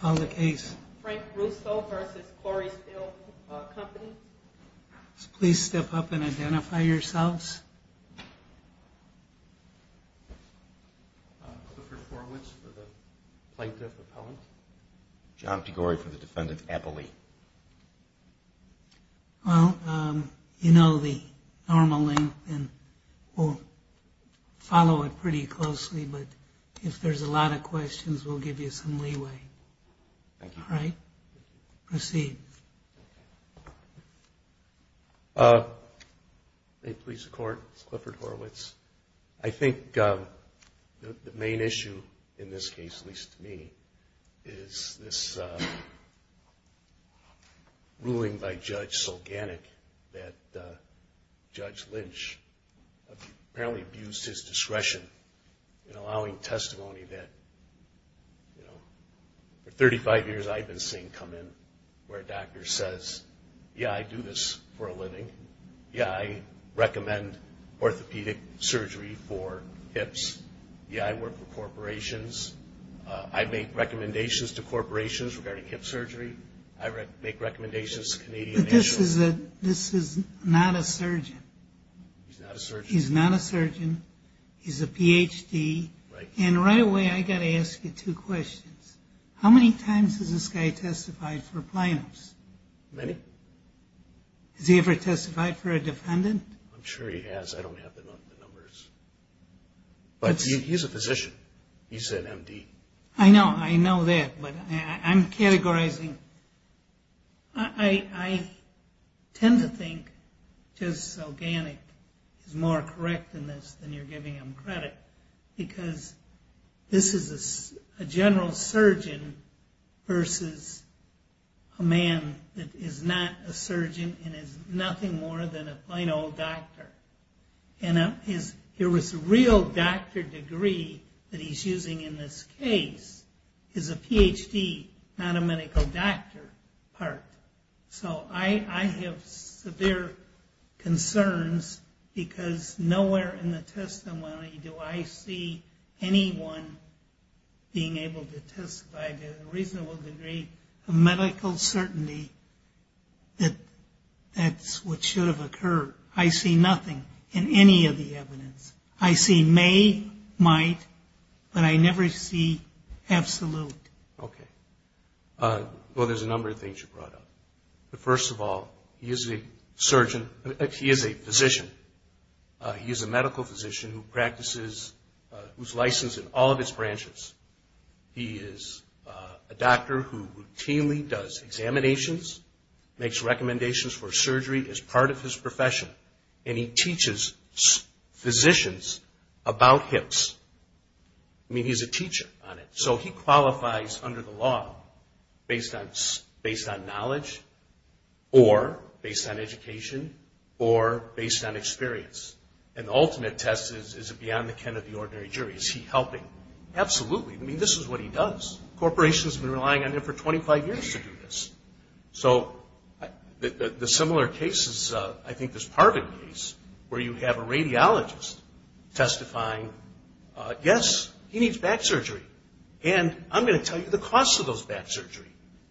Call the case. Frank Russo vs. Corey Steel Company. Please step up and identify yourselves. Clifford Horowitz for the Plaintiff Appellant. John Piguori for the Defendant Appellee. Well, you know the normal length and we'll follow it pretty closely, but if there's a lot of questions, we'll give you some leeway. Thank you. All right. Proceed. May it please the Court, this is Clifford Horowitz. I think the main issue in this case, at least to me, is this ruling by Judge Sulganic that Judge Lynch apparently abused his discretion in allowing testimony that for 35 years I've been seeing come in where a doctor says, yeah, I do this for a living. Yeah, I recommend orthopedic surgery for hips. Yeah, I work for corporations. I make recommendations to corporations regarding hip surgery. I make recommendations to Canadian nationals. But this is not a surgeon. He's not a surgeon. He's a Ph.D. And right away I've got to ask you two questions. How many times has this guy testified for plaintiffs? Many. Has he ever testified for a defendant? I'm sure he has. I don't have the numbers. But he's a physician. He's an M.D. I know that, but I'm categorizing. I tend to think Judge Sulganic is more correct in this than you're giving him credit. Because this is a general surgeon versus a man that is not a surgeon and is nothing more than a plain old doctor. And his real doctor degree that he's using in this case is a Ph.D., not a medical doctor part. So I have severe concerns because nowhere in the testimony do I see anyone being able to testify to a reasonable degree of medical certainty that that's what should have occurred. I see nothing in any of the evidence. I see may, might, but I never see absolute. Okay. Well, there's a number of things you brought up. But first of all, he is a surgeon. He is a physician. He is a medical physician who practices, who's licensed in all of his branches. He is a doctor who routinely does examinations, makes recommendations for surgery as part of his profession. And he teaches physicians about hips. I mean, he's a teacher on it. So he qualifies under the law based on knowledge or based on education or based on experience. And the ultimate test is, is it beyond the ken of the ordinary jury? Is he helping? Absolutely. I mean, this is what he does. Corporations have been relying on him for 25 years to do this. So the similar case is I think this Parvin case where you have a radiologist testifying, yes, he needs back surgery. And I'm going to tell you the cost of those back surgery.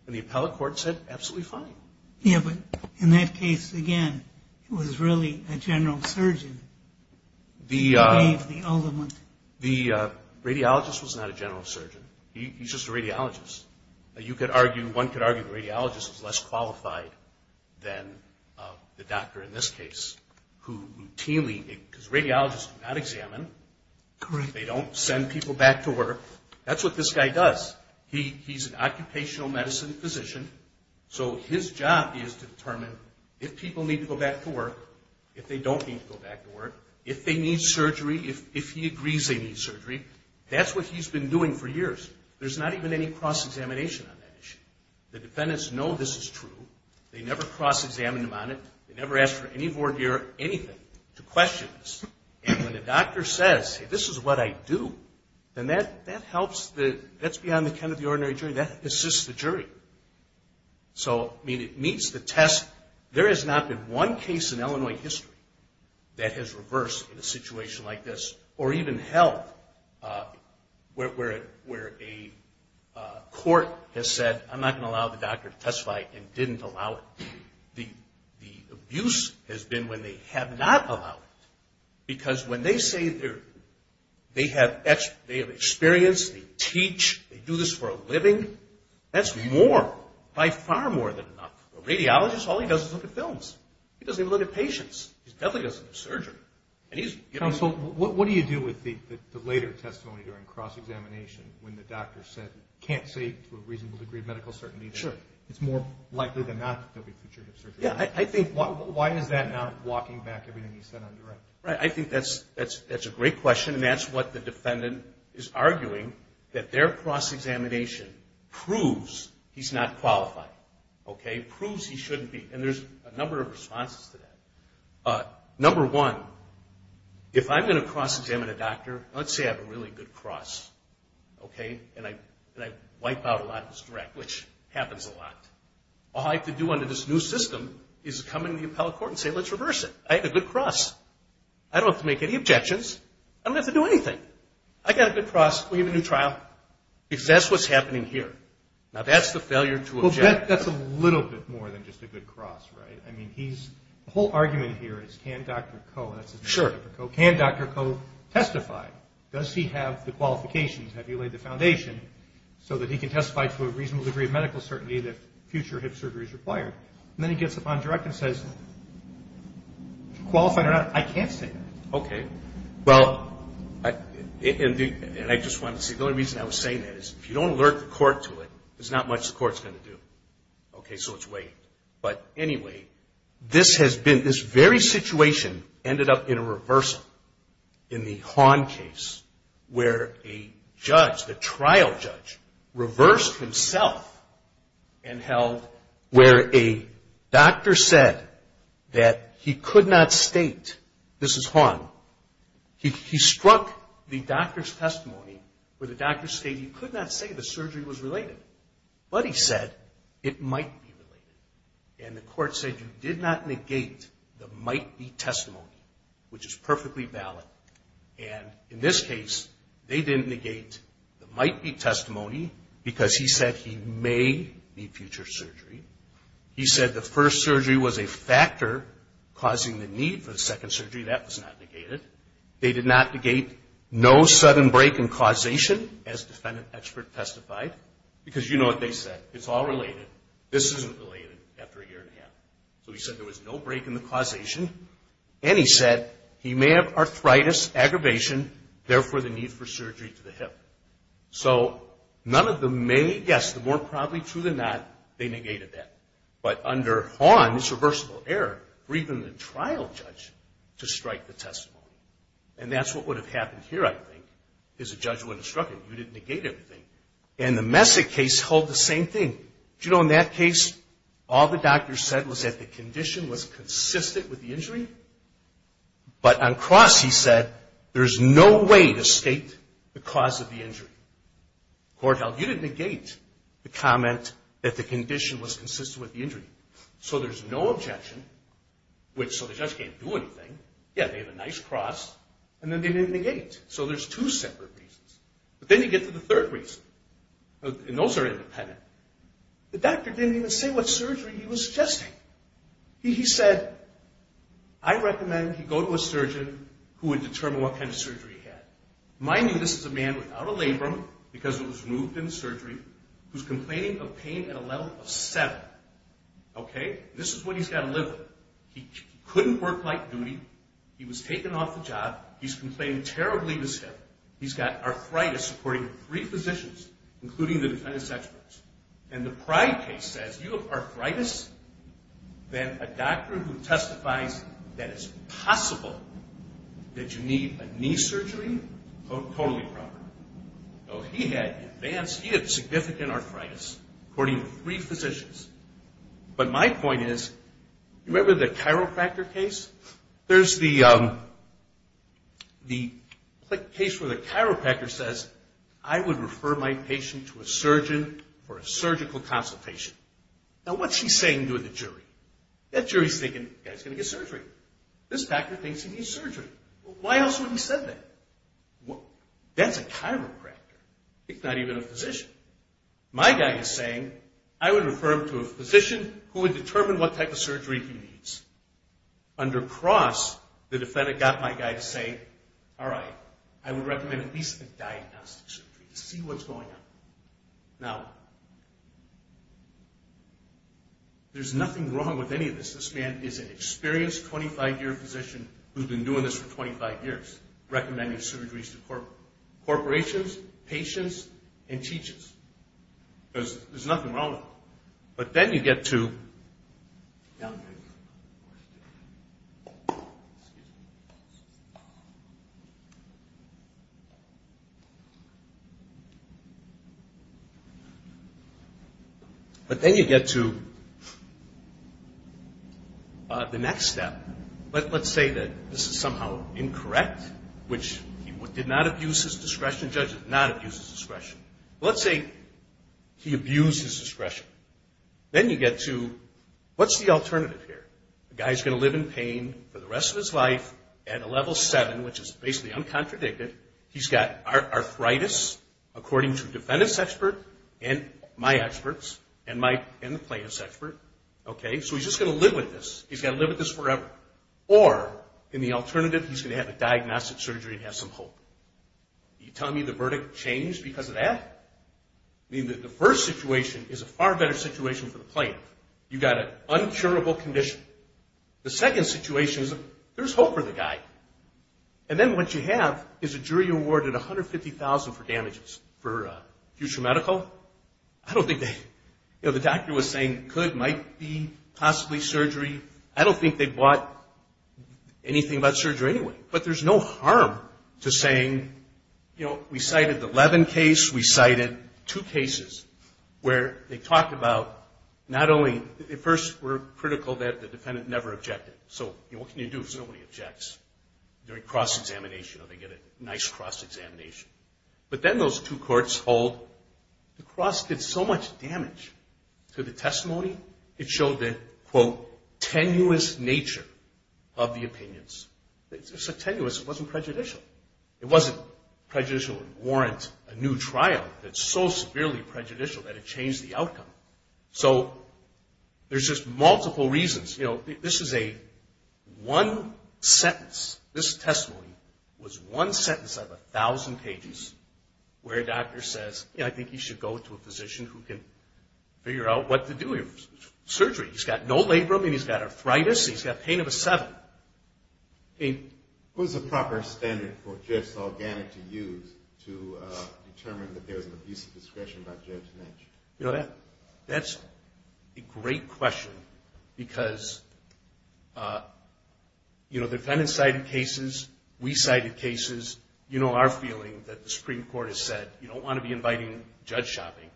And the appellate court said, absolutely fine. Yeah, but in that case, again, it was really a general surgeon. The radiologist was not a general surgeon. He's just a radiologist. You could argue, one could argue the radiologist is less qualified than the doctor in this case, who routinely, because radiologists do not examine. Correct. They don't send people back to work. That's what this guy does. He's an occupational medicine physician. So his job is to determine if people need to go back to work, if they don't need to go back to work, if they need surgery, if he agrees they need surgery. That's what he's been doing for years. There's not even any cross-examination on that issue. The defendants know this is true. They never cross-examine him on it. They never ask for any voir dire anything to question this. And when the doctor says, this is what I do, then that helps. That's beyond the kind of the ordinary jury. That assists the jury. So, I mean, it meets the test. There has not been one case in Illinois history that has reversed in a situation like this, or even held, where a court has said, I'm not going to allow the doctor to testify and didn't allow it. The abuse has been when they have not allowed it. Because when they say they have experience, they teach, they do this for a living, that's more. By far more than enough. A radiologist, all he does is look at films. He doesn't even look at patients. He definitely doesn't do surgery. Counsel, what do you do with the later testimony during cross-examination, when the doctor said, can't say to a reasonable degree of medical certainty, that it's more likely than not that there will be future hip surgery? Yeah, I think, why is that not walking back everything he said on direct? I think that's a great question. And that's what the defendant is arguing, that their cross-examination proves he's not qualified. Okay? Proves he shouldn't be. And there's a number of responses to that. Number one, if I'm going to cross-examine a doctor, let's say I have a really good cross, okay, and I wipe out a lot of this direct, which happens a lot. All I have to do under this new system is come into the appellate court and say, let's reverse it. I have a good cross. I don't have to make any objections. I don't have to do anything. I've got a good cross. We have a new trial. Because that's what's happening here. Now, that's the failure to object. Well, that's a little bit more than just a good cross, right? I mean, the whole argument here is, can Dr. Koh, that's his name, Dr. Koh, can Dr. Koh testify? Does he have the qualifications? Have you laid the foundation so that he can testify to a reasonable degree of medical certainty that future hip surgery is required? And then he gets up on direct and says, qualified or not, I can't say that. Okay. Well, and I just wanted to say, the only reason I was saying that is if you don't alert the court to it, there's not much the court's going to do. Okay? So let's wait. But, anyway, this has been, this very situation ended up in a reversal in the Hahn case where a judge, the trial judge, reversed himself and held where a doctor said that he could not state, this is Hahn, he struck the doctor's testimony where the doctor stated he could not say the surgery was related. But he said it might be related. And the court said you did not negate the might-be testimony, which is perfectly valid. And in this case, they didn't negate the might-be testimony because he said he may need future surgery. He said the first surgery was a factor causing the need for the second surgery. That was not negated. They did not negate no sudden break in causation, as defendant expert testified, because you know what they said. It's all related. This isn't related after a year and a half. So he said there was no break in the causation. And he said he may have arthritis, aggravation, therefore the need for surgery to the hip. So none of them may, yes, the more probably true than not, they negated that. But under Hahn, it's reversible error for even the trial judge to strike the testimony. And that's what would have happened here, I think, is a judge would have struck him. You didn't negate everything. And the Messick case held the same thing. You know, in that case, all the doctor said was that the condition was consistent with the injury. But on cross, he said there's no way to state the cause of the injury. Court held you didn't negate the comment that the condition was consistent with the injury. So there's no objection. So the judge can't do anything. Yeah, they have a nice cross, and then they didn't negate. So there's two separate reasons. But then you get to the third reason, and those are independent. The doctor didn't even say what surgery he was suggesting. He said, I recommend he go to a surgeon who would determine what kind of surgery he had. Mind you, this is a man without a labrum, because it was removed in the surgery, who's complaining of pain at a level of seven. Okay? This is what he's got to live with. He couldn't work like duty. He was taken off the job. He's complaining terribly of his hip. He's got arthritis, according to three physicians, including the defendant's experts. And the pride case says, you have arthritis? Then a doctor who testifies that it's possible that you need a knee surgery? Totally proper. So he had advanced, he had significant arthritis, according to three physicians. But my point is, remember the chiropractor case? There's the case where the chiropractor says, I would refer my patient to a surgeon for a surgical consultation. Now what's he saying to the jury? That jury's thinking, the guy's going to get surgery. This doctor thinks he needs surgery. Why else would he have said that? That's a chiropractor. It's not even a physician. My guy is saying, I would refer him to a physician who would determine what type of surgery he needs. Under cross, the defendant got my guy to say, all right, I would recommend at least a diagnostic surgery to see what's going on. Now, there's nothing wrong with any of this. This man is an experienced 25-year physician who's been doing this for 25 years, recommending surgeries to corporations, patients, and teachers. There's nothing wrong with it. But then you get to the next step. Let's say that this is somehow incorrect, which he did not abuse his discretion. The judge did not abuse his discretion. Let's say he abused his discretion. Then you get to, what's the alternative here? The guy's going to live in pain for the rest of his life at a level 7, which is basically uncontradicted. He's got arthritis, according to a defendant's expert and my experts and the plaintiff's expert. So he's just going to live with this. He's got to live with this forever. Or, in the alternative, he's going to have a diagnostic surgery and have some hope. Are you telling me the verdict changed because of that? I mean, the first situation is a far better situation for the plaintiff. You've got an uncurable condition. The second situation is there's hope for the guy. And then what you have is a jury awarded $150,000 for damages for future medical. I don't think they, you know, the doctor was saying could, might be, possibly surgery. I don't think they bought anything about surgery anyway. But there's no harm to saying, you know, we cited the Levin case. We cited two cases where they talked about not only, at first were critical that the defendant never objected. So, you know, what can you do if nobody objects during cross-examination or they get a nice cross-examination? But then those two courts hold the cross did so much damage to the testimony, it showed the, quote, tenuous nature of the opinions. It's tenuous. It wasn't prejudicial. It wasn't prejudicial to warrant a new trial. It's so severely prejudicial that it changed the outcome. So there's just multiple reasons. You know, this is a one sentence. This testimony was one sentence out of 1,000 pages where a doctor says, you know, I think you should go to a physician who can figure out what to do with your surgery. He's got no labrum and he's got arthritis and he's got pain of a seven. He's got pain. What is the proper standard for a judge to use to determine that there's an abuse of discretion by Judge Netsch? You know, that's a great question because, you know, defendants cited cases. We cited cases. You know our feeling that the Supreme Court has said you don't want to be inviting judge shopping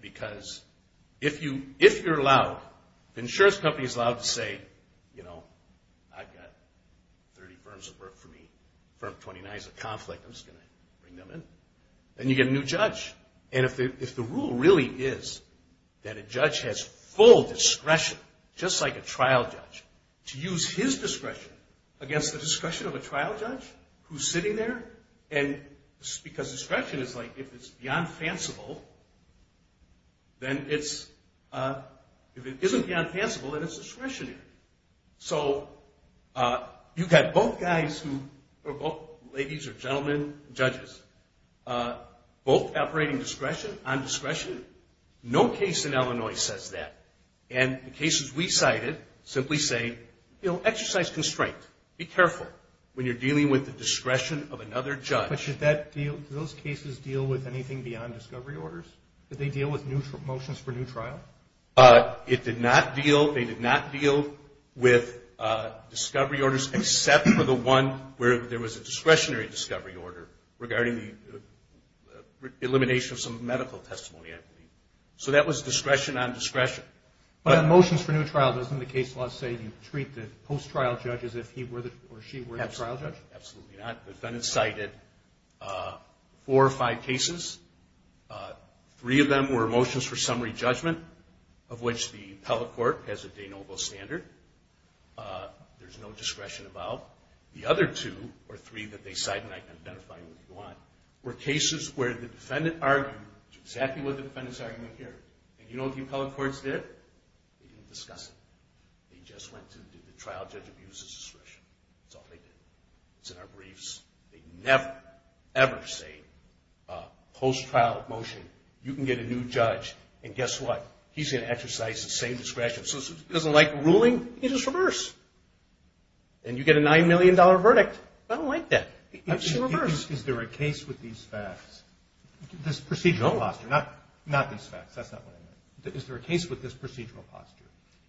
because if you're allowed, the insurance company is allowed to say, you know, I've got 30 firms of work for me. Firm 29 is a conflict. I'm just going to bring them in. Then you get a new judge. And if the rule really is that a judge has full discretion, just like a trial judge, to use his discretion against the discretion of a trial judge who's sitting there, and because discretion is like if it's beyond fanciful, then it's, if it isn't beyond fanciful, then it's discretionary. So you've got both guys who, or both ladies or gentlemen, judges, both operating discretion, on discretion. No case in Illinois says that. And the cases we cited simply say, you know, exercise constraint. Be careful when you're dealing with the discretion of another judge. But should that deal, do those cases deal with anything beyond discovery orders? Did they deal with motions for new trial? It did not deal, they did not deal with discovery orders except for the one where there was a discretionary discovery order regarding the elimination of some medical testimony, I believe. So that was discretion on discretion. But motions for new trial, doesn't the case law say you treat the post-trial judge as if he or she were the trial judge? Absolutely not. The defendant cited four or five cases. Three of them were motions for summary judgment, of which the appellate court has a de novo standard. There's no discretion about. The other two or three that they cite, and I can identify them if you want, were cases where the defendant argued exactly what the defendant's argument here. And you know what the appellate courts did? They didn't discuss it. They just went to the trial judge abuses discretion. That's all they did. It's in our briefs. They never, ever say, post-trial motion, you can get a new judge, and guess what? He's going to exercise the same discretion. So if he doesn't like the ruling, he can just reverse. And you get a $9 million verdict. I don't like that. He can just reverse. Is there a case with these facts? This procedural posture. Not these facts. That's not what I meant. Is there a case with this procedural posture?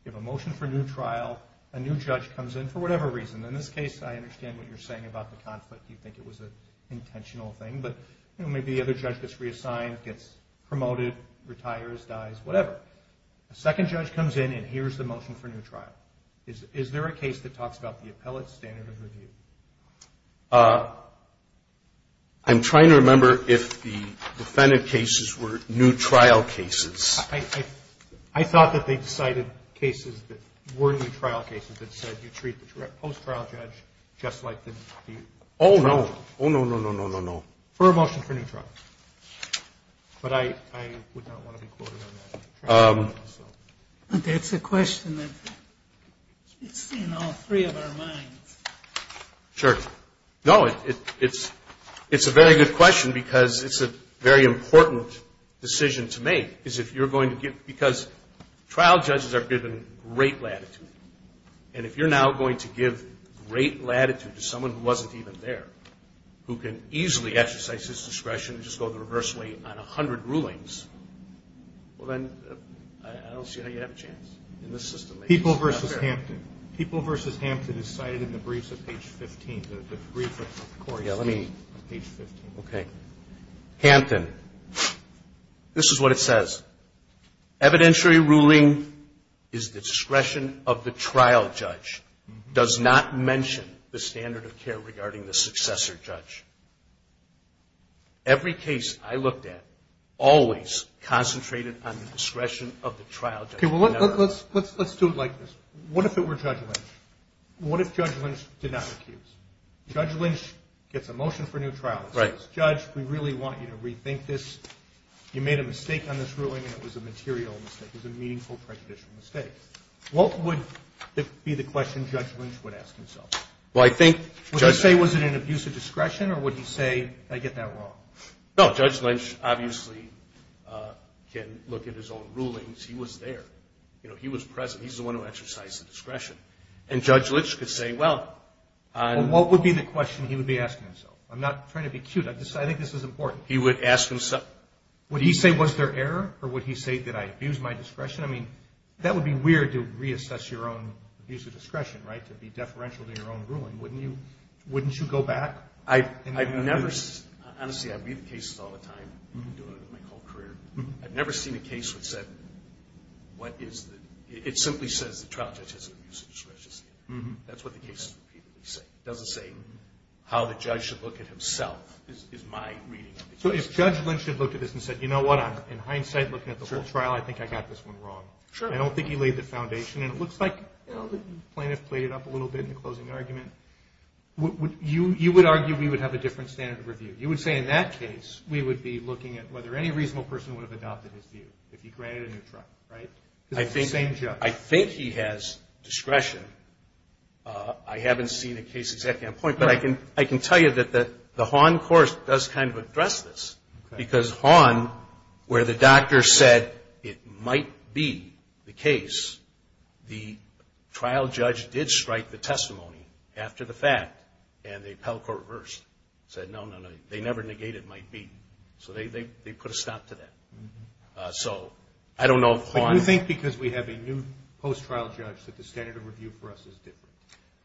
You have a motion for new trial. A new judge comes in for whatever reason. In this case, I understand what you're saying about the conflict. You think it was an intentional thing. But, you know, maybe the other judge gets reassigned, gets promoted, retires, dies, whatever. A second judge comes in, and here's the motion for new trial. Is there a case that talks about the appellate standard of review? I'm trying to remember if the defendant cases were new trial cases. I thought that they cited cases that were new trial cases that said you treat the post-trial judge just like the trial judge. Oh, no. Oh, no, no, no, no, no, no. For a motion for new trial. But I would not want to be quoted on that. That's a question that's in all three of our minds. Sure. No, it's a very good question because it's a very important decision to make, because trial judges are given great latitude. And if you're now going to give great latitude to someone who wasn't even there, who can easily exercise his discretion and just go the reverse way on 100 rulings, well, then I don't see how you have a chance in this system. People v. Hampton. People v. Hampton is cited in the briefs at page 15, the brief of the court. Yeah, let me. Page 15. Okay. Hampton. This is what it says. Evidentiary ruling is the discretion of the trial judge. Does not mention the standard of care regarding the successor judge. Every case I looked at always concentrated on the discretion of the trial judge. Okay, well, let's do it like this. What if it were Judge Lynch? What if Judge Lynch did not accuse? Judge Lynch gets a motion for new trial. It says, Judge, we really want you to rethink this. You made a mistake on this ruling, and it was a material mistake. It was a meaningful prejudicial mistake. What would be the question Judge Lynch would ask himself? Well, I think, Judge. Would he say, was it an abuse of discretion, or would he say, did I get that wrong? No, Judge Lynch obviously can look at his own rulings. He was there. You know, he was present. He's the one who exercised the discretion. And Judge Lynch could say, well. Well, what would be the question he would be asking himself? I'm not trying to be cute. I think this is important. He would ask himself. Would he say, was there error, or would he say, did I abuse my discretion? I mean, that would be weird to reassess your own abuse of discretion, right, to be deferential to your own ruling. Wouldn't you go back? Honestly, I read the cases all the time. I've been doing it my whole career. I've never seen a case that said what is the – it simply says the trial judge has an abuse of discretion. That's what the cases repeatedly say. It doesn't say how the judge should look at himself is my reading. So if Judge Lynch had looked at this and said, you know what? In hindsight, looking at the whole trial, I think I got this one wrong. I don't think he laid the foundation. And it looks like the plaintiff played it up a little bit in the closing argument. You would argue we would have a different standard of review. You would say in that case we would be looking at whether any reasonable person would have adopted his view, if he granted a new trial, right? Because it's the same judge. I think he has discretion. I haven't seen a case exactly on point, but I can tell you that the Haun course does kind of address this because Haun, where the doctor said it might be the case, the trial judge did strike the testimony after the fact, and the appellate court reversed, said, no, no, no, they never negated might be. So they put a stop to that. So I don't know if Haun – But you think because we have a new post-trial judge that the standard of review for us is different,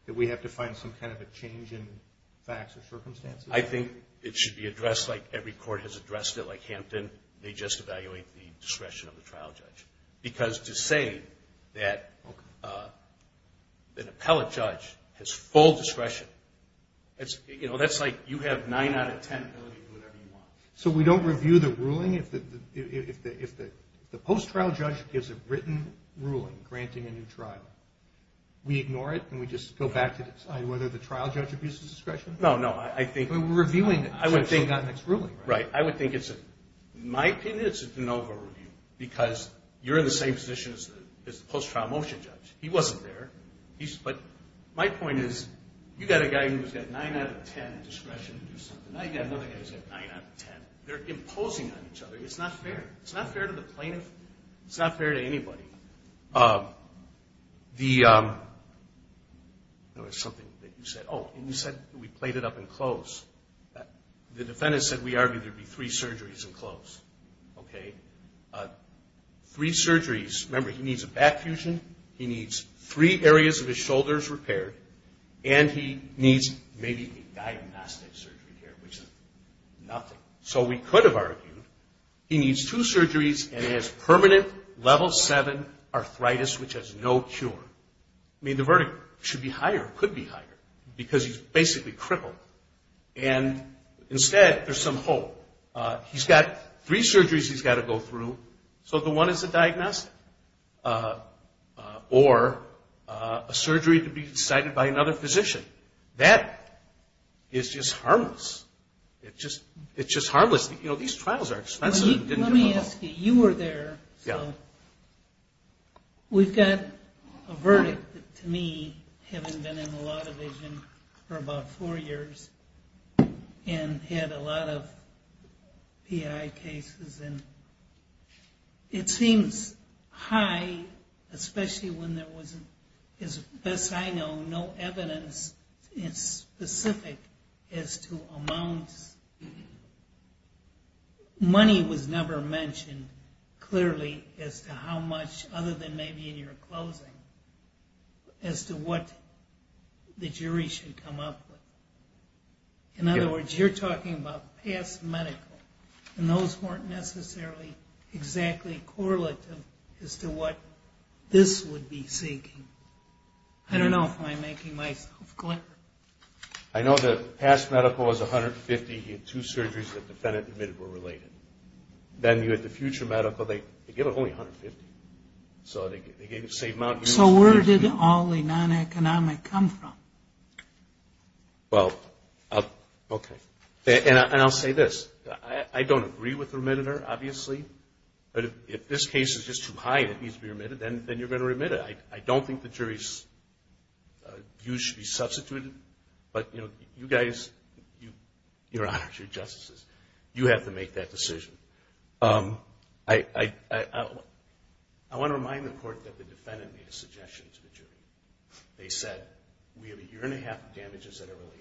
that we have to find some kind of a change in facts or circumstances? I think it should be addressed like every court has addressed it. Like Hampton, they just evaluate the discretion of the trial judge. Because to say that an appellate judge has full discretion, that's like you have nine out of ten ability to do whatever you want. So we don't review the ruling? If the post-trial judge gives a written ruling granting a new trial, we ignore it and we just go back to decide whether the trial judge abuses discretion? No, no, I think – We're reviewing it. I would think – So we've got the next ruling, right? Right. I would think it's – in my opinion, it's a de novo review because you're in the same position as the post-trial motion judge. He wasn't there. But my point is you've got a guy who's got nine out of ten discretion to do something. Now you've got another guy who's got nine out of ten. They're imposing on each other. It's not fair. It's not fair to the plaintiff. It's not fair to anybody. The – there was something that you said. Oh, you said we played it up and close. The defendant said we argued there would be three surgeries and close. Okay. Three surgeries. Remember, he needs a back fusion. He needs three areas of his shoulders repaired. And he needs maybe a diagnostic surgery here, which is nothing. So we could have argued he needs two surgeries and has permanent level seven arthritis, which has no cure. I mean, the verdict should be higher, could be higher, because he's basically crippled. And instead, there's some hope. He's got three surgeries he's got to go through, so the one is a diagnostic or a surgery to be decided by another physician. That is just harmless. It's just harmless. You know, these trials are expensive. Let me ask you. You were there. Yeah. We've got a verdict that, to me, having been in the law division for about four years and had a lot of PI cases, and it seems high, especially when there wasn't, as best I know, no evidence specific as to amounts. Money was never mentioned clearly as to how much, other than maybe in your closing, as to what the jury should come up with. In other words, you're talking about past medical, and those weren't necessarily exactly correlative as to what this would be seeking. I don't know if I'm making myself clear. I know the past medical was $150. He had two surgeries that the defendant admitted were related. Then you had the future medical. They gave it only $150. So they gave the same amount. So where did all the non-economic come from? Well, okay. And I'll say this. I don't agree with the remitter, obviously. But if this case is just too high and it needs to be remitted, then you're going to remit it. I don't think the jury's views should be substituted. But, you know, you guys, your honors, your justices, you have to make that decision. I want to remind the court that the defendant made a suggestion to the jury. They said, we have a year and a half of damages that are related.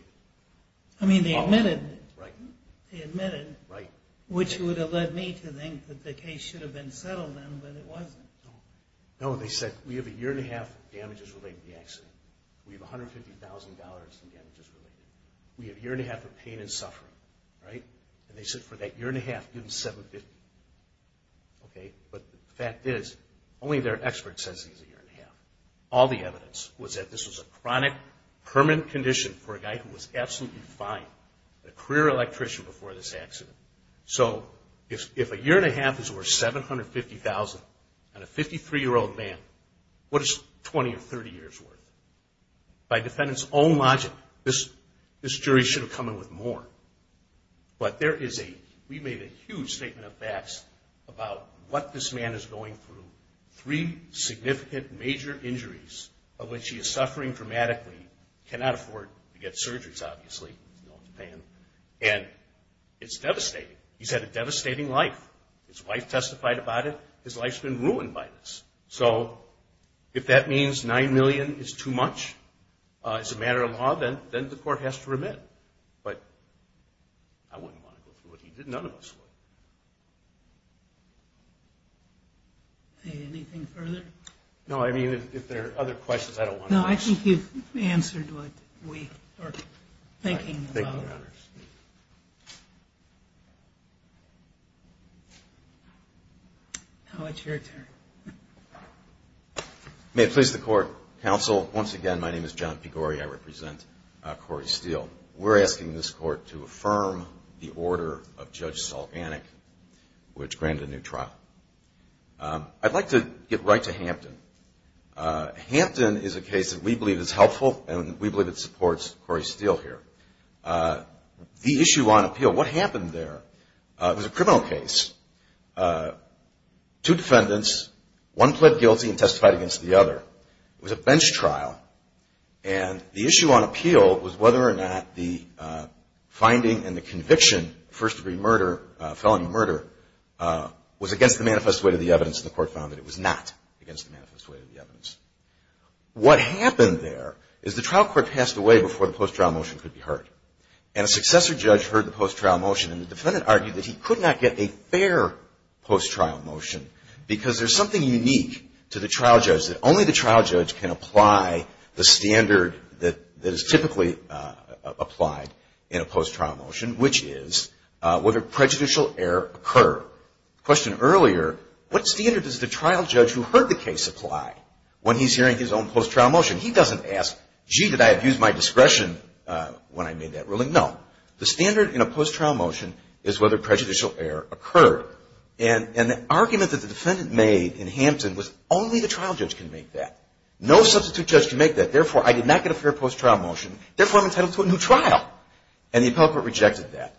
I mean, they admitted. They admitted, which would have led me to think that the case should have been settled then, but it wasn't. No, they said, we have a year and a half of damages related to the accident. We have $150,000 in damages related. We have a year and a half of pain and suffering. And they said for that year and a half, give them $750,000. But the fact is, only their expert says it's a year and a half. All the evidence was that this was a chronic, permanent condition for a guy who was absolutely fine. A career electrician before this accident. So if a year and a half is worth $750,000 and a 53-year-old man, what is 20 or 30 years worth? By defendant's own logic, this jury should have come in with more. But there is a, we made a huge statement of facts about what this man is going through. Three significant major injuries of which he is suffering dramatically. Cannot afford to get surgeries, obviously. And it's devastating. He's had a devastating life. His wife testified about it. His life's been ruined by this. So if that means $9 million is too much as a matter of law, then the court has to remit. But I wouldn't want to go through what he did. None of us would. Anything further? No, I mean, if there are other questions, I don't want to. No, I think you've answered what we are thinking about. Thank you, Your Honor. Now it's your turn. May it please the court. Counsel, once again, my name is John Pigore. I represent Corey Steele. We're asking this court to affirm the order of Judge Salganik, which granted a new trial. I'd like to get right to Hampton. Hampton is a case that we believe is helpful, and we believe it supports Corey Steele here. The issue on appeal, what happened there? It was a criminal case. Two defendants, one pled guilty and testified against the other. It was a bench trial. And the issue on appeal was whether or not the finding and the conviction, first-degree murder, felony murder, was against the manifest way to the evidence. And the court found that it was not against the manifest way to the evidence. What happened there is the trial court passed away before the post-trial motion could be heard. And a successor judge heard the post-trial motion, and the defendant argued that he could not get a fair post-trial motion because there's something unique to the trial judge, that only the trial judge can apply the standard that is typically applied in a post-trial motion, which is whether prejudicial error occurred. The question earlier, what standard does the trial judge who heard the case apply when he's hearing his own post-trial motion? He doesn't ask, gee, did I abuse my discretion when I made that ruling? No. The standard in a post-trial motion is whether prejudicial error occurred. And the argument that the defendant made in Hampton was only the trial judge can make that. No substitute judge can make that. Therefore, I did not get a fair post-trial motion. Therefore, I'm entitled to a new trial. And the appellate court rejected that.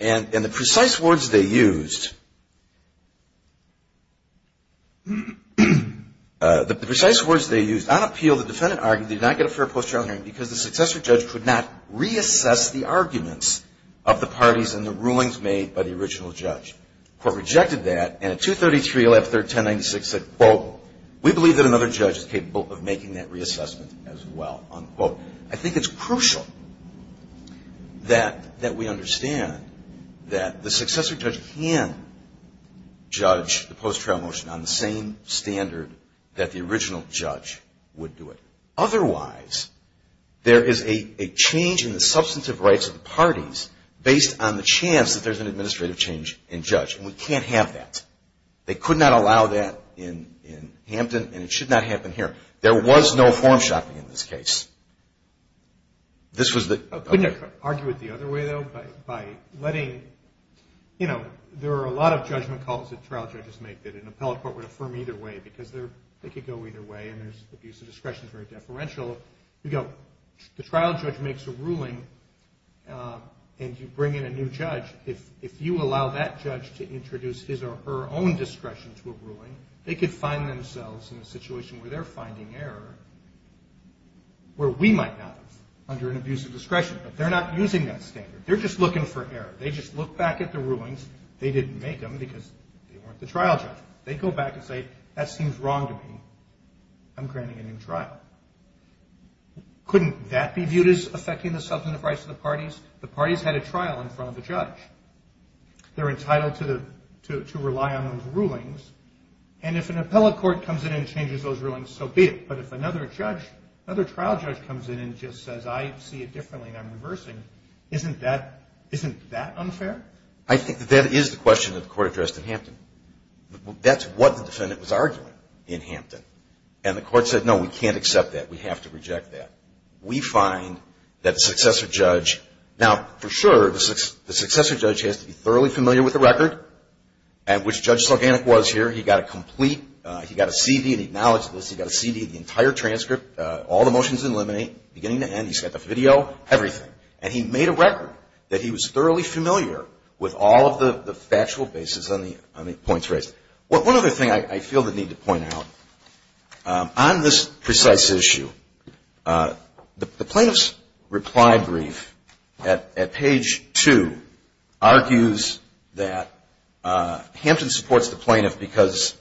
And the precise words they used, the precise words they used on appeal, the defendant argued, did not get a fair post-trial hearing because the successor judge could not reassess the arguments of the parties and the rulings made by the original judge. The court rejected that. And at 233, 113, 1096, it said, quote, we believe that another judge is capable of making that reassessment as well. Unquote. I think it's crucial that we understand that the successor judge can judge the post-trial motion on the same standard that the original judge would do it. Otherwise, there is a change in the substantive rights of the parties based on the chance that there's an administrative change in judge. And we can't have that. They could not allow that in Hampton, and it should not happen here. There was no form shopping in this case. This was the- Couldn't they argue it the other way, though, by letting, you know, there are a lot of judgment calls that trial judges make that an appellate court would affirm either way because they could go either way, and there's abuse of discretion is very deferential. The trial judge makes a ruling, and you bring in a new judge. If you allow that judge to introduce his or her own discretion to a ruling, they could find themselves in a situation where they're finding error where we might not have under an abuse of discretion. But they're not using that standard. They're just looking for error. They just look back at the rulings. They didn't make them because they weren't the trial judge. They go back and say, that seems wrong to me. I'm granting a new trial. Couldn't that be viewed as affecting the substantive rights of the parties? The parties had a trial in front of the judge. They're entitled to rely on those rulings. And if an appellate court comes in and changes those rulings, so be it. But if another judge, another trial judge comes in and just says, I see it differently and I'm reversing, isn't that unfair? I think that that is the question that the court addressed in Hampton. That's what the defendant was arguing in Hampton. And the court said, no, we can't accept that. We have to reject that. We find that the successor judge, now, for sure, the successor judge has to be thoroughly familiar with the record, which Judge Sulganik was here. He got a complete, he got a CD and he acknowledged this. He got a CD of the entire transcript, all the motions in limine, beginning to end. He's got the video, everything. And he made a record that he was thoroughly familiar with all of the factual basis on the points raised. One other thing I feel the need to point out. On this precise issue, the plaintiff's reply brief at page 2 argues that Hampton supports the plaintiff because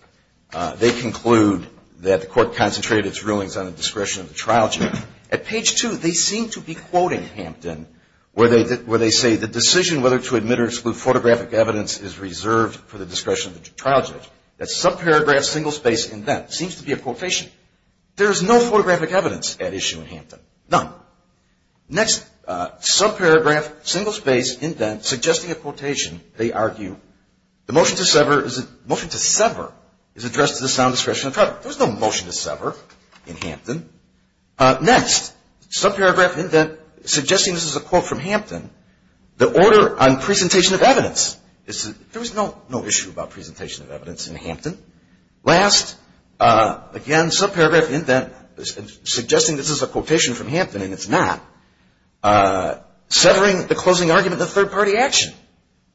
they conclude that the court concentrated its rulings on the discretion of the trial judge. At page 2, they seem to be quoting Hampton where they say the decision whether to admit or exclude photographic evidence is reserved for the discretion of the trial judge. That subparagraph, single space indent seems to be a quotation. There is no photographic evidence at issue in Hampton. None. Next, subparagraph, single space indent suggesting a quotation. They argue the motion to sever is addressed to the sound discretion of the trial judge. There was no motion to sever in Hampton. Next, subparagraph indent suggesting this is a quote from Hampton, the order on presentation of evidence. There was no issue about presentation of evidence in Hampton. Last, again, subparagraph indent suggesting this is a quotation from Hampton, and it's not. Severing the closing argument in a third-party action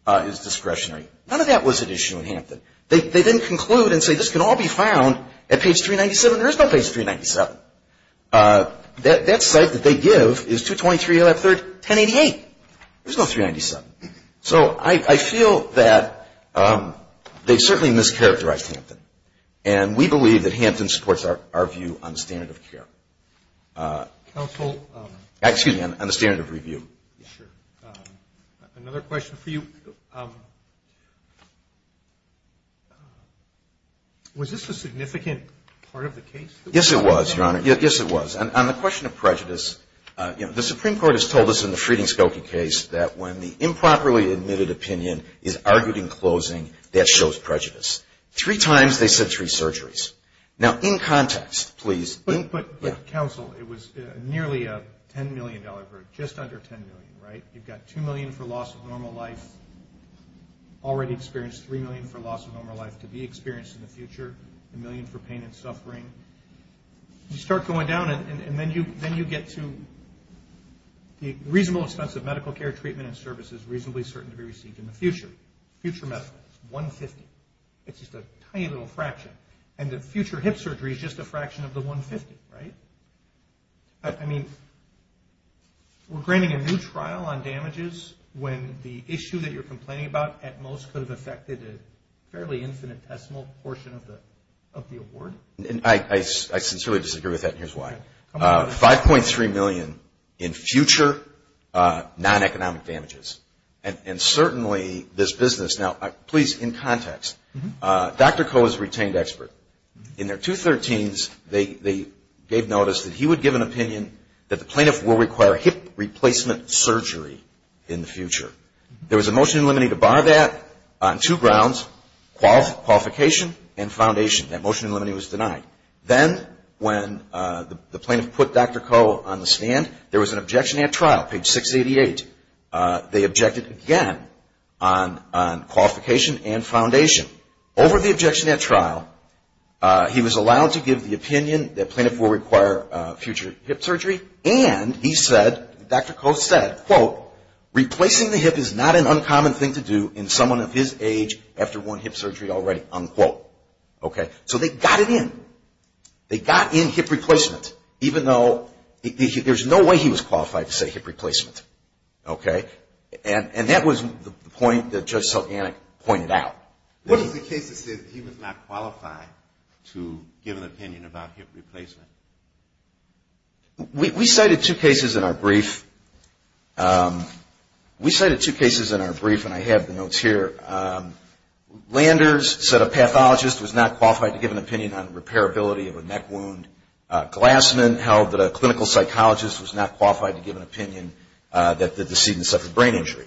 is discretionary. None of that was at issue in Hampton. They didn't conclude and say this can all be found at page 397. There is no page 397. That site that they give is 223, 1088. There's no 397. So I feel that they certainly mischaracterized Hampton. And we believe that Hampton supports our view on the standard of care. Excuse me, on the standard of review. Another question for you. Was this a significant part of the case? Yes, it was, Your Honor. Yes, it was. On the question of prejudice, you know, the Supreme Court has told us in the Frieden-Skokie case that when the improperly admitted opinion is argued in closing, that shows prejudice. Three times they said three surgeries. Now, in context, please. But counsel, it was nearly a $10 million burden, just under $10 million, right? You've got $2 million for loss of normal life, already experienced $3 million for loss of normal life to be experienced in the future, $1 million for pain and suffering. You start going down, and then you get to the reasonable expense of medical care, treatment, and services reasonably certain to be received in the future. Future medical, 150. It's just a tiny little fraction. And the future hip surgery is just a fraction of the 150, right? I mean, we're granting a new trial on damages when the issue that you're complaining about at most could have affected a fairly infinitesimal portion of the award? I sincerely disagree with that, and here's why. $5.3 million in future non-economic damages, and certainly this business. Now, please, in context. Dr. Koh is a retained expert. In their 213s, they gave notice that he would give an opinion that the plaintiff will require hip replacement surgery in the future. There was a motion in limine to bar that on two grounds, qualification and foundation. That motion in limine was denied. Then when the plaintiff put Dr. Koh on the stand, there was an objection at trial, page 688. They objected again on qualification and foundation. Over the objection at trial, he was allowed to give the opinion that plaintiff will require future hip surgery, and he said, Dr. Koh said, quote, replacing the hip is not an uncommon thing to do in someone of his age after one hip surgery already, unquote. So they got it in. They got in hip replacement, even though there's no way he was qualified to say hip replacement. Okay? And that was the point that Judge Selganic pointed out. What was the case that said he was not qualified to give an opinion about hip replacement? We cited two cases in our brief. We cited two cases in our brief, and I have the notes here. Landers said a pathologist was not qualified to give an opinion on repairability of a neck wound. Glassman held that a clinical psychologist was not qualified to give an opinion that the decedent suffered brain injury.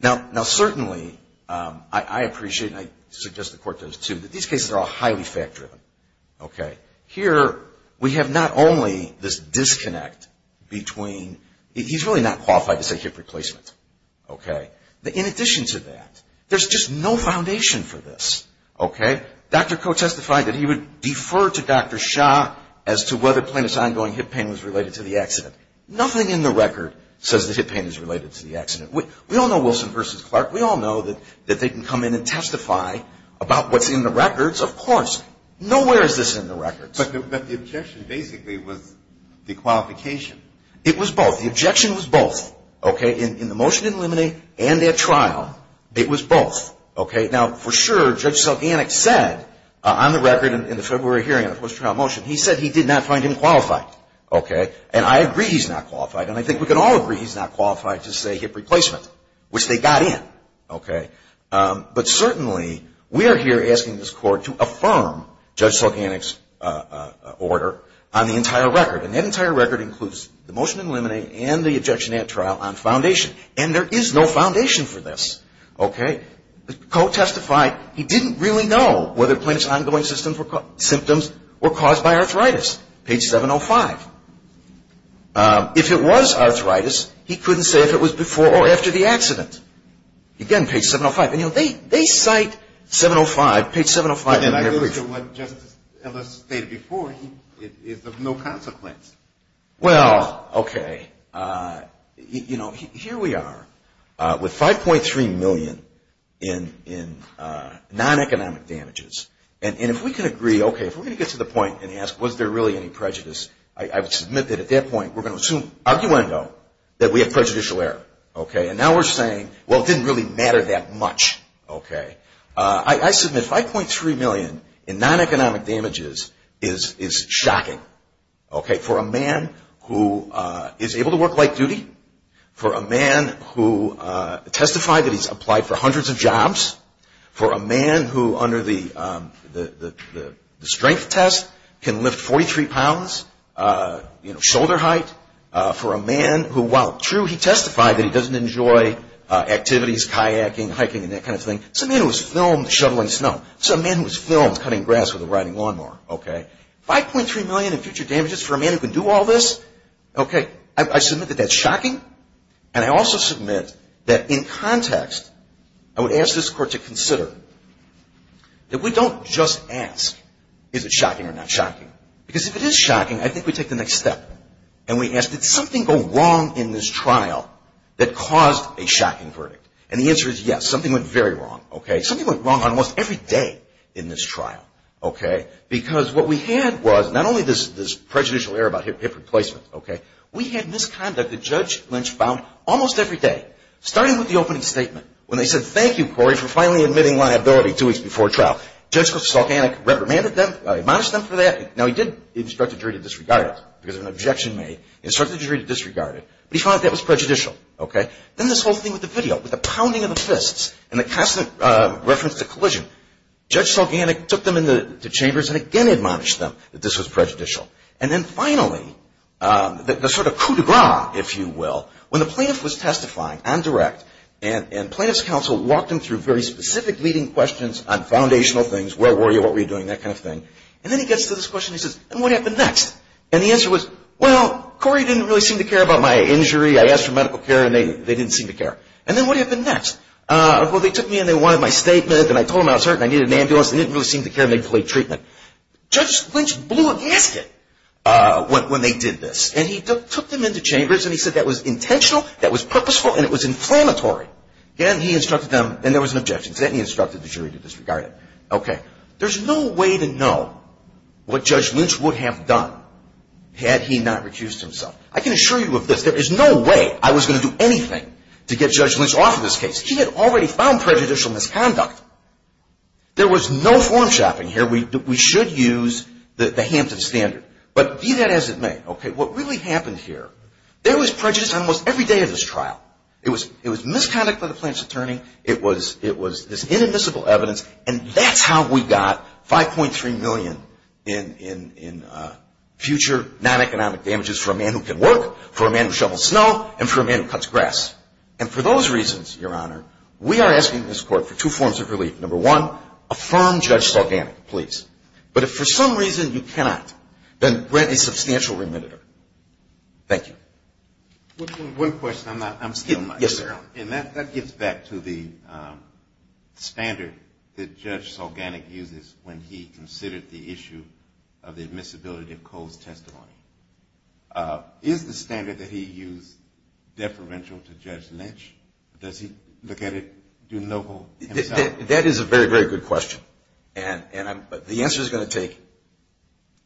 Now, certainly, I appreciate, and I suggest the Court does, too, that these cases are all highly fact-driven. Okay? Here, we have not only this disconnect between he's really not qualified to say hip replacement. Okay? In addition to that, there's just no foundation for this. Okay? Dr. Koh testified that he would defer to Dr. Shah as to whether plaintiff's ongoing hip pain was related to the accident. Nothing in the record says that hip pain is related to the accident. We all know Wilson v. Clark. We all know that they can come in and testify about what's in the records, of course. Nowhere is this in the records. But the objection basically was the qualification. It was both. The objection was both. Okay? In the motion to eliminate and at trial, it was both. Okay? Now, for sure, Judge Selganik said on the record in the February hearing on the post-trial motion, he said he did not find him qualified. Okay? And I agree he's not qualified. And I think we can all agree he's not qualified to say hip replacement, which they got in. Okay? But certainly, we are here asking this Court to affirm Judge Selganik's order on the entire record. And that entire record includes the motion to eliminate and the objection at trial on foundation. And there is no foundation for this. Okay? The Court testified he didn't really know whether Plaintiff's ongoing symptoms were caused by arthritis. Page 705. If it was arthritis, he couldn't say if it was before or after the accident. Again, page 705. And, you know, they cite 705. Page 705 in their brief. Again, I believe that what Justice Ellis stated before is of no consequence. Well, okay. You know, here we are with 5.3 million in non-economic damages. And if we can agree, okay, if we're going to get to the point and ask was there really any prejudice, I would submit that at that point we're going to assume arguendo that we have prejudicial error. Okay? And now we're saying, well, it didn't really matter that much. Okay? I submit 5.3 million in non-economic damages is shocking. Okay? For a man who is able to work light duty. For a man who testified that he's applied for hundreds of jobs. For a man who under the strength test can lift 43 pounds, you know, shoulder height. For a man who, while true, he testified that he doesn't enjoy activities, kayaking, hiking, and that kind of thing. It's a man who was filmed shoveling snow. It's a man who was filmed cutting grass with a riding lawnmower. Okay? 5.3 million in future damages for a man who can do all this. Okay? I submit that that's shocking. And I also submit that in context, I would ask this court to consider that we don't just ask is it shocking or not shocking. Because if it is shocking, I think we take the next step. And we ask did something go wrong in this trial that caused a shocking verdict? And the answer is yes. Something went very wrong. Okay? Something went wrong almost every day in this trial. Okay? Because what we had was not only this prejudicial error about hip replacement. Okay? We had misconduct that Judge Lynch found almost every day. Starting with the opening statement. When they said thank you, Corey, for finally admitting liability two weeks before trial. Judge Solganic reprimanded them, admonished them for that. Now, he did instruct the jury to disregard it because of an objection made. He instructed the jury to disregard it. But he found that that was prejudicial. Okay? Then this whole thing with the video. With the pounding of the fists and the constant reference to collision. Judge Solganic took them into chambers and again admonished them that this was prejudicial. And then finally, the sort of coup de grace, if you will, when the plaintiff was testifying on direct and plaintiff's counsel walked him through very specific leading questions on foundational things. Where were you? What were you doing? That kind of thing. And then he gets to this question. He says, and what happened next? And the answer was, well, Corey didn't really seem to care about my injury. I asked for medical care and they didn't seem to care. And then what happened next? Well, they took me and they wanted my statement and I told them I was hurt and I needed an ambulance. They didn't really seem to care and they delayed treatment. Judge Lynch blew a gasket when they did this. And he took them into chambers and he said that was intentional, that was purposeful, and it was inflammatory. Again, he instructed them and there was an objection. Then he instructed the jury to disregard it. Okay. There's no way to know what Judge Lynch would have done had he not recused himself. I can assure you of this. There is no way I was going to do anything to get Judge Lynch off of this case. He had already found prejudicial misconduct. There was no form shopping here. We should use the Hampton standard. But be that as it may, okay, what really happened here, there was prejudice almost every day of this trial. It was misconduct by the plaintiff's attorney. It was this inadmissible evidence. And that's how we got $5.3 million in future non-economic damages for a man who can work, for a man who shovels snow, and for a man who cuts grass. And for those reasons, Your Honor, we are asking this Court for two forms of relief. Number one, affirm Judge Sulganik, please. But if for some reason you cannot, then grant a substantial remitter. Thank you. One question. I'm still not clear on it. Yes, sir. And that gets back to the standard that Judge Sulganik uses when he considered the issue of the admissibility of Kohl's testimony. Is the standard that he used deferential to Judge Lynch? Does he look at it, do local? That is a very, very good question. And the answer is going to take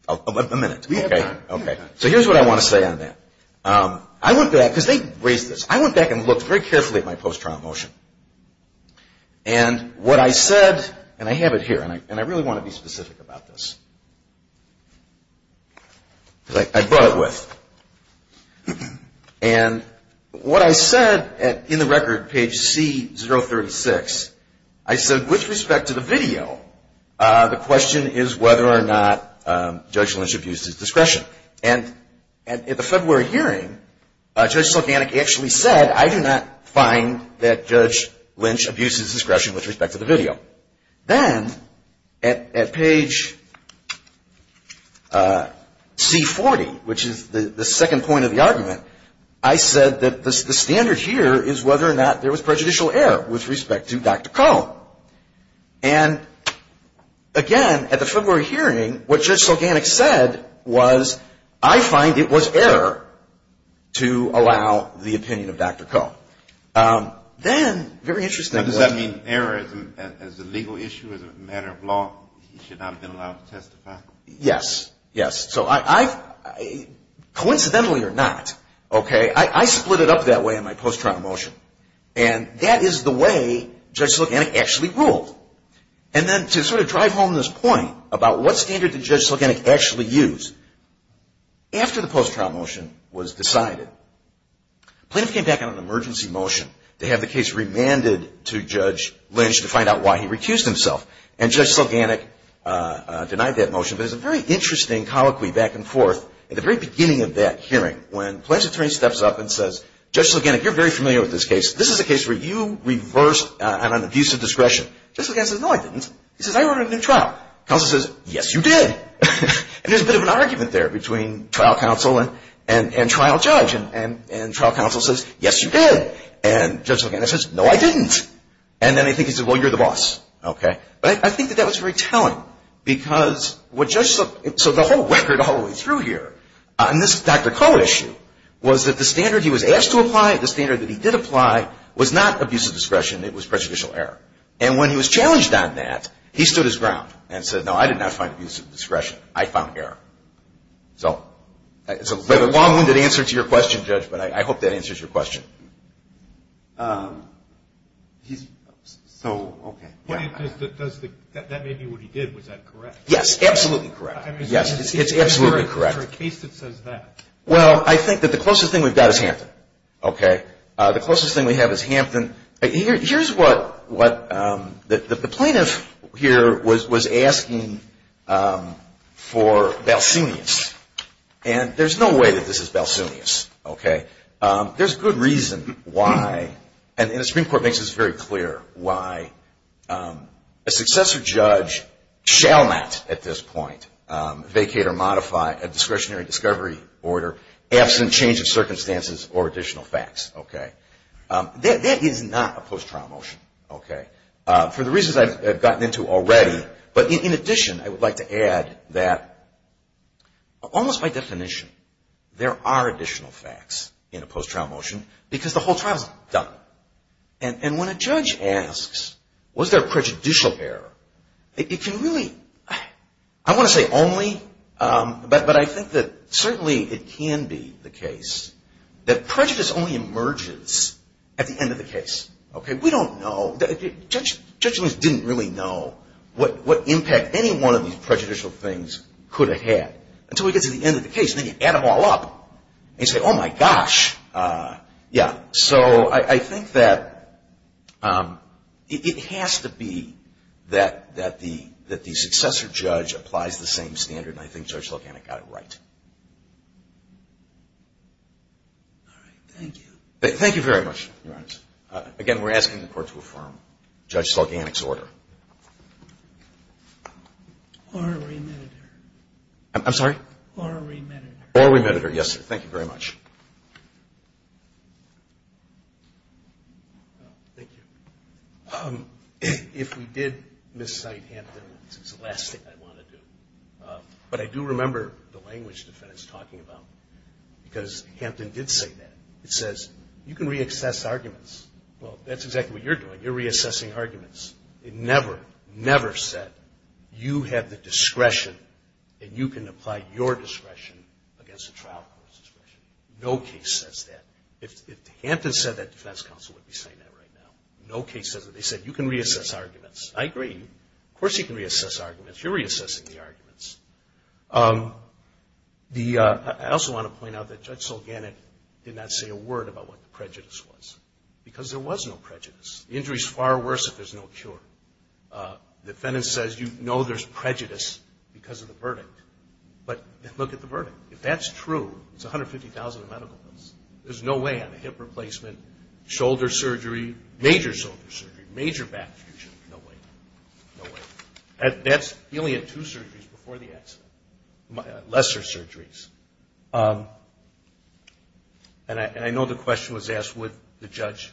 a minute. We have time. So here's what I want to say on that. I went back, because they raised this. I went back and looked very carefully at my post-trial motion. And what I said, and I have it here, and I really want to be specific about this. Because I brought it with. And what I said in the record, page C036, I said with respect to the video, the question is whether or not Judge Lynch abused his discretion. And at the February hearing, Judge Sulganik actually said, I do not find that Judge Lynch abused his discretion with respect to the video. Then at page C40, which is the second point of the argument, I said that the standard here is whether or not there was prejudicial error with respect to Dr. Kohl. And again, at the February hearing, what Judge Sulganik said was, I find it was error to allow the opinion of Dr. Kohl. Then, very interesting. Does that mean error as a legal issue, as a matter of law, he should not have been allowed to testify? Yes. Yes. So I've, coincidentally or not, okay, I split it up that way in my post-trial motion. And that is the way Judge Sulganik actually ruled. And then to sort of drive home this point about what standard did Judge Sulganik actually use, after the post-trial motion was decided, plaintiff came back on an emergency motion to have the case remanded to Judge Lynch to find out why he recused himself. And Judge Sulganik denied that motion. But there's a very interesting colloquy back and forth at the very beginning of that hearing when plaintiff's attorney steps up and says, Judge Sulganik, you're very familiar with this case. This is a case where you reversed an abuse of discretion. Judge Sulganik says, no, I didn't. He says, I ordered a new trial. Counsel says, yes, you did. And there's a bit of an argument there between trial counsel and trial judge. And trial counsel says, yes, you did. And Judge Sulganik says, no, I didn't. And then I think he said, well, you're the boss. Okay. But I think that that was very telling because what Judge Sulganik, so the whole record all the way through here on this Dr. Koh issue, was that the standard he was asked to apply, the standard that he did apply, was not abuse of discretion. It was prejudicial error. And when he was challenged on that, he stood his ground and said, no, I did not find abuse of discretion. I found error. So it's a long-winded answer to your question, Judge, but I hope that answers your question. So, okay. That may be what he did. Was that correct? Yes, absolutely correct. Yes, it's absolutely correct. For a case that says that. Well, I think that the closest thing we've got is Hampton. Okay. The closest thing we have is Hampton. Here's what the plaintiff here was asking for balsenius. And there's no way that this is balsenius. Okay. There's good reason why, and the Supreme Court makes this very clear, why a successor judge shall not at this point vacate or modify a discretionary discovery order absent change of circumstances or additional facts. Okay. That is not a post-trial motion. Okay. For the reasons I've gotten into already, but in addition, I would like to add that almost by definition, there are additional facts in a post-trial motion because the whole trial is done. And when a judge asks, was there prejudicial error, it can really, I want to say only, but I think that certainly it can be the case that prejudice only emerges at the end of the case. Okay. We don't know. Judge Lewis didn't really know what impact any one of these prejudicial things could have had until he gets to the end of the case. Then you add them all up and you say, oh, my gosh. Yeah. So I think that it has to be that the successor judge applies the same standard, and I think Judge Sulganic got it right. All right. Thank you. Thank you very much, Your Honor. Again, we're asking the Court to affirm Judge Sulganic's order. Or remitted her. I'm sorry? Or remitted her. Or remitted her. Yes, sir. Thank you very much. Thank you. If we did miscite Hampton, it's the last thing I want to do. But I do remember the language defense talking about, because Hampton did say that. It says, you can re-access arguments. Well, that's exactly what you're doing. You're re-accessing arguments. It never, never said, you have the discretion and you can apply your discretion against a trial court's discretion. No case says that. If Hampton said that, defense counsel would be saying that right now. No case says that. They said, you can re-access arguments. I agree. Of course you can re-access arguments. You're re-accessing the arguments. I also want to point out that Judge Sulganic did not say a word about what the prejudice was, because there was no prejudice. The injury is far worse if there's no cure. The defendant says, you know there's prejudice because of the verdict. But look at the verdict. If that's true, it's 150,000 in medical bills. There's no way on a hip replacement, shoulder surgery, major shoulder surgery, major back fusion. No way. No way. That's healing in two surgeries before the accident, lesser surgeries. And I know the question was asked, would the judge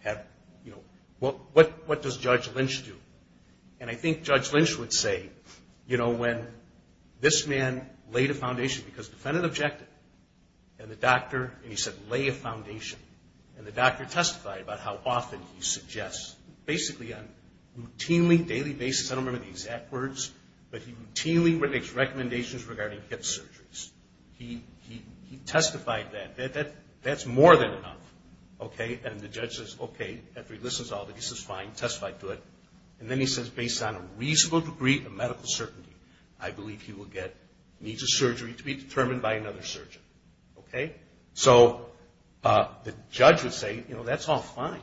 have, you know, what does Judge Lynch do? And I think Judge Lynch would say, you know, when this man laid a foundation, because the defendant objected, and the doctor, and he said lay a foundation, and the doctor testified about how often he suggests, basically on a routinely daily basis, I don't remember the exact words, but he routinely makes recommendations regarding hip surgeries. He testified that. That's more than enough. Okay? And the judge says, okay. After he listens to all of it, he says, fine, testify to it. And then he says, based on a reasonable degree of medical certainty, I believe he will get knee to surgery to be determined by another surgeon. Okay? So the judge would say, you know, that's all fine.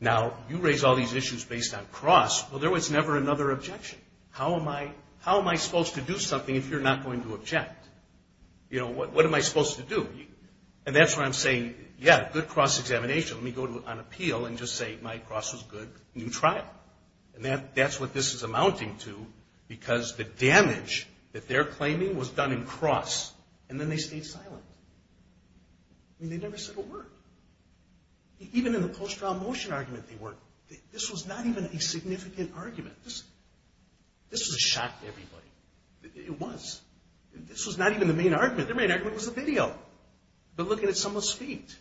Now, you raise all these issues based on cross. Well, there was never another objection. How am I supposed to do something if you're not going to object? You know, what am I supposed to do? And that's where I'm saying, yeah, good cross examination. Let me go on appeal and just say my cross was good. New trial. And that's what this is amounting to, because the damage that they're claiming was done in cross, and then they stayed silent. I mean, they never said a word. Even in the post-trial motion argument they worked, this was not even a significant argument. This was a shock to everybody. It was. This was not even the main argument. The main argument was the video. They're looking at someone's feet.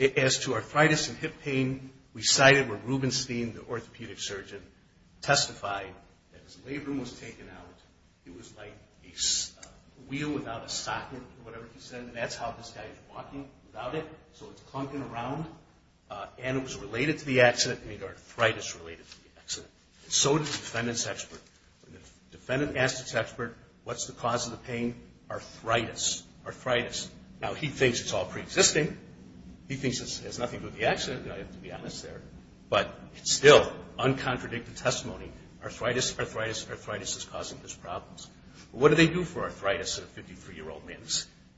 As to arthritis and hip pain, we cited where Rubenstein, the orthopedic surgeon, testified that his labrum was taken out. It was like a wheel without a socket or whatever he said, and that's how this guy is walking without it. So it's clunking around. And it was related to the accident. I mean, arthritis related to the accident. So did the defendant's expert. The defendant asked his expert, what's the cause of the pain? Arthritis. Arthritis. Now, he thinks it's all preexisting. He thinks it has nothing to do with the accident, to be honest there, but it's still uncontradicted testimony. Arthritis, arthritis, arthritis is causing his problems. What do they do for arthritis in a 53-year-old man?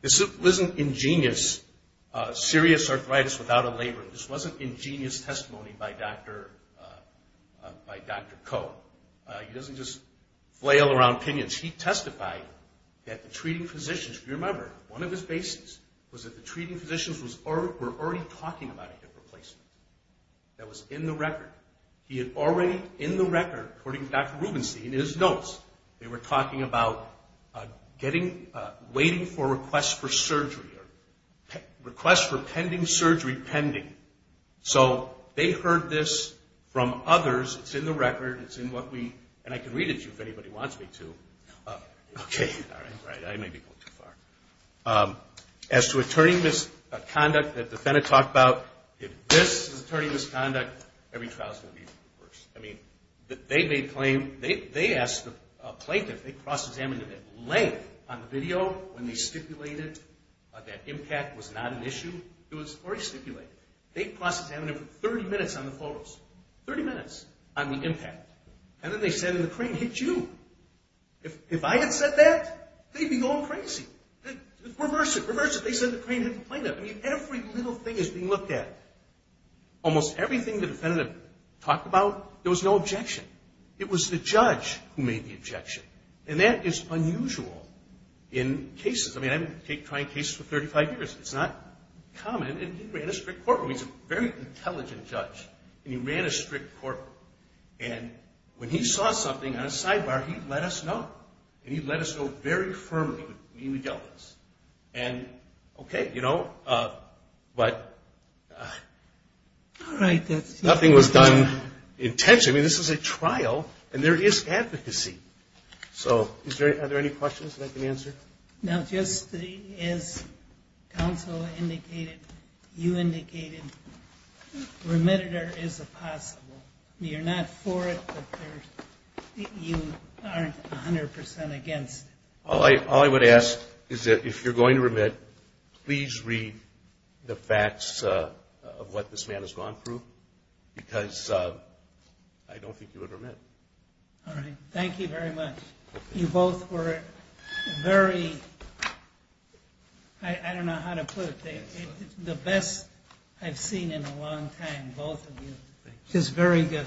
This wasn't ingenious serious arthritis without a labrum. This wasn't ingenious testimony by Dr. Koh. He doesn't just flail around opinions. He testified that the treating physicians, if you remember, one of his bases was that the treating physicians were already talking about a hip replacement. That was in the record. He had already, in the record, according to Dr. Rubenstein, in his notes, they were talking about waiting for requests for surgery or requests for pending surgery pending. So they heard this from others. It's in the record. It's in what we – and I can read it to you if anybody wants me to. Okay. All right. I may be going too far. As to attorney misconduct that the defendant talked about, if this is attorney misconduct, every trial is going to be worse. I mean, they made a claim. They asked the plaintiff, they cross-examined it at length on the video when they stipulated that impact was not an issue. It was already stipulated. They cross-examined it for 30 minutes on the photos, 30 minutes on the impact. And then they said the crane hit you. If I had said that, they'd be going crazy. Reverse it. Reverse it. They said the crane hit the plaintiff. I mean, every little thing is being looked at. Almost everything the defendant talked about, there was no objection. It was the judge who made the objection. And that is unusual in cases. I mean, I've been trying cases for 35 years. It's not common. And he ran a strict courtroom. He's a very intelligent judge. And he ran a strict courtroom. And when he saw something on a sidebar, he let us know. And he let us know very firmly that he would deal with this. And, okay, you know, but nothing was done intentionally. I mean, this is a trial, and there is advocacy. So are there any questions that I can answer? No, just as counsel indicated, you indicated remitted or is it possible? You're not for it, but you aren't 100% against it. All I would ask is that if you're going to remit, please read the facts of what this man has gone through, because I don't think you would remit. All right. Thank you very much. You both were very, I don't know how to put it. The best I've seen in a long time, both of you. It was very good. Thank you.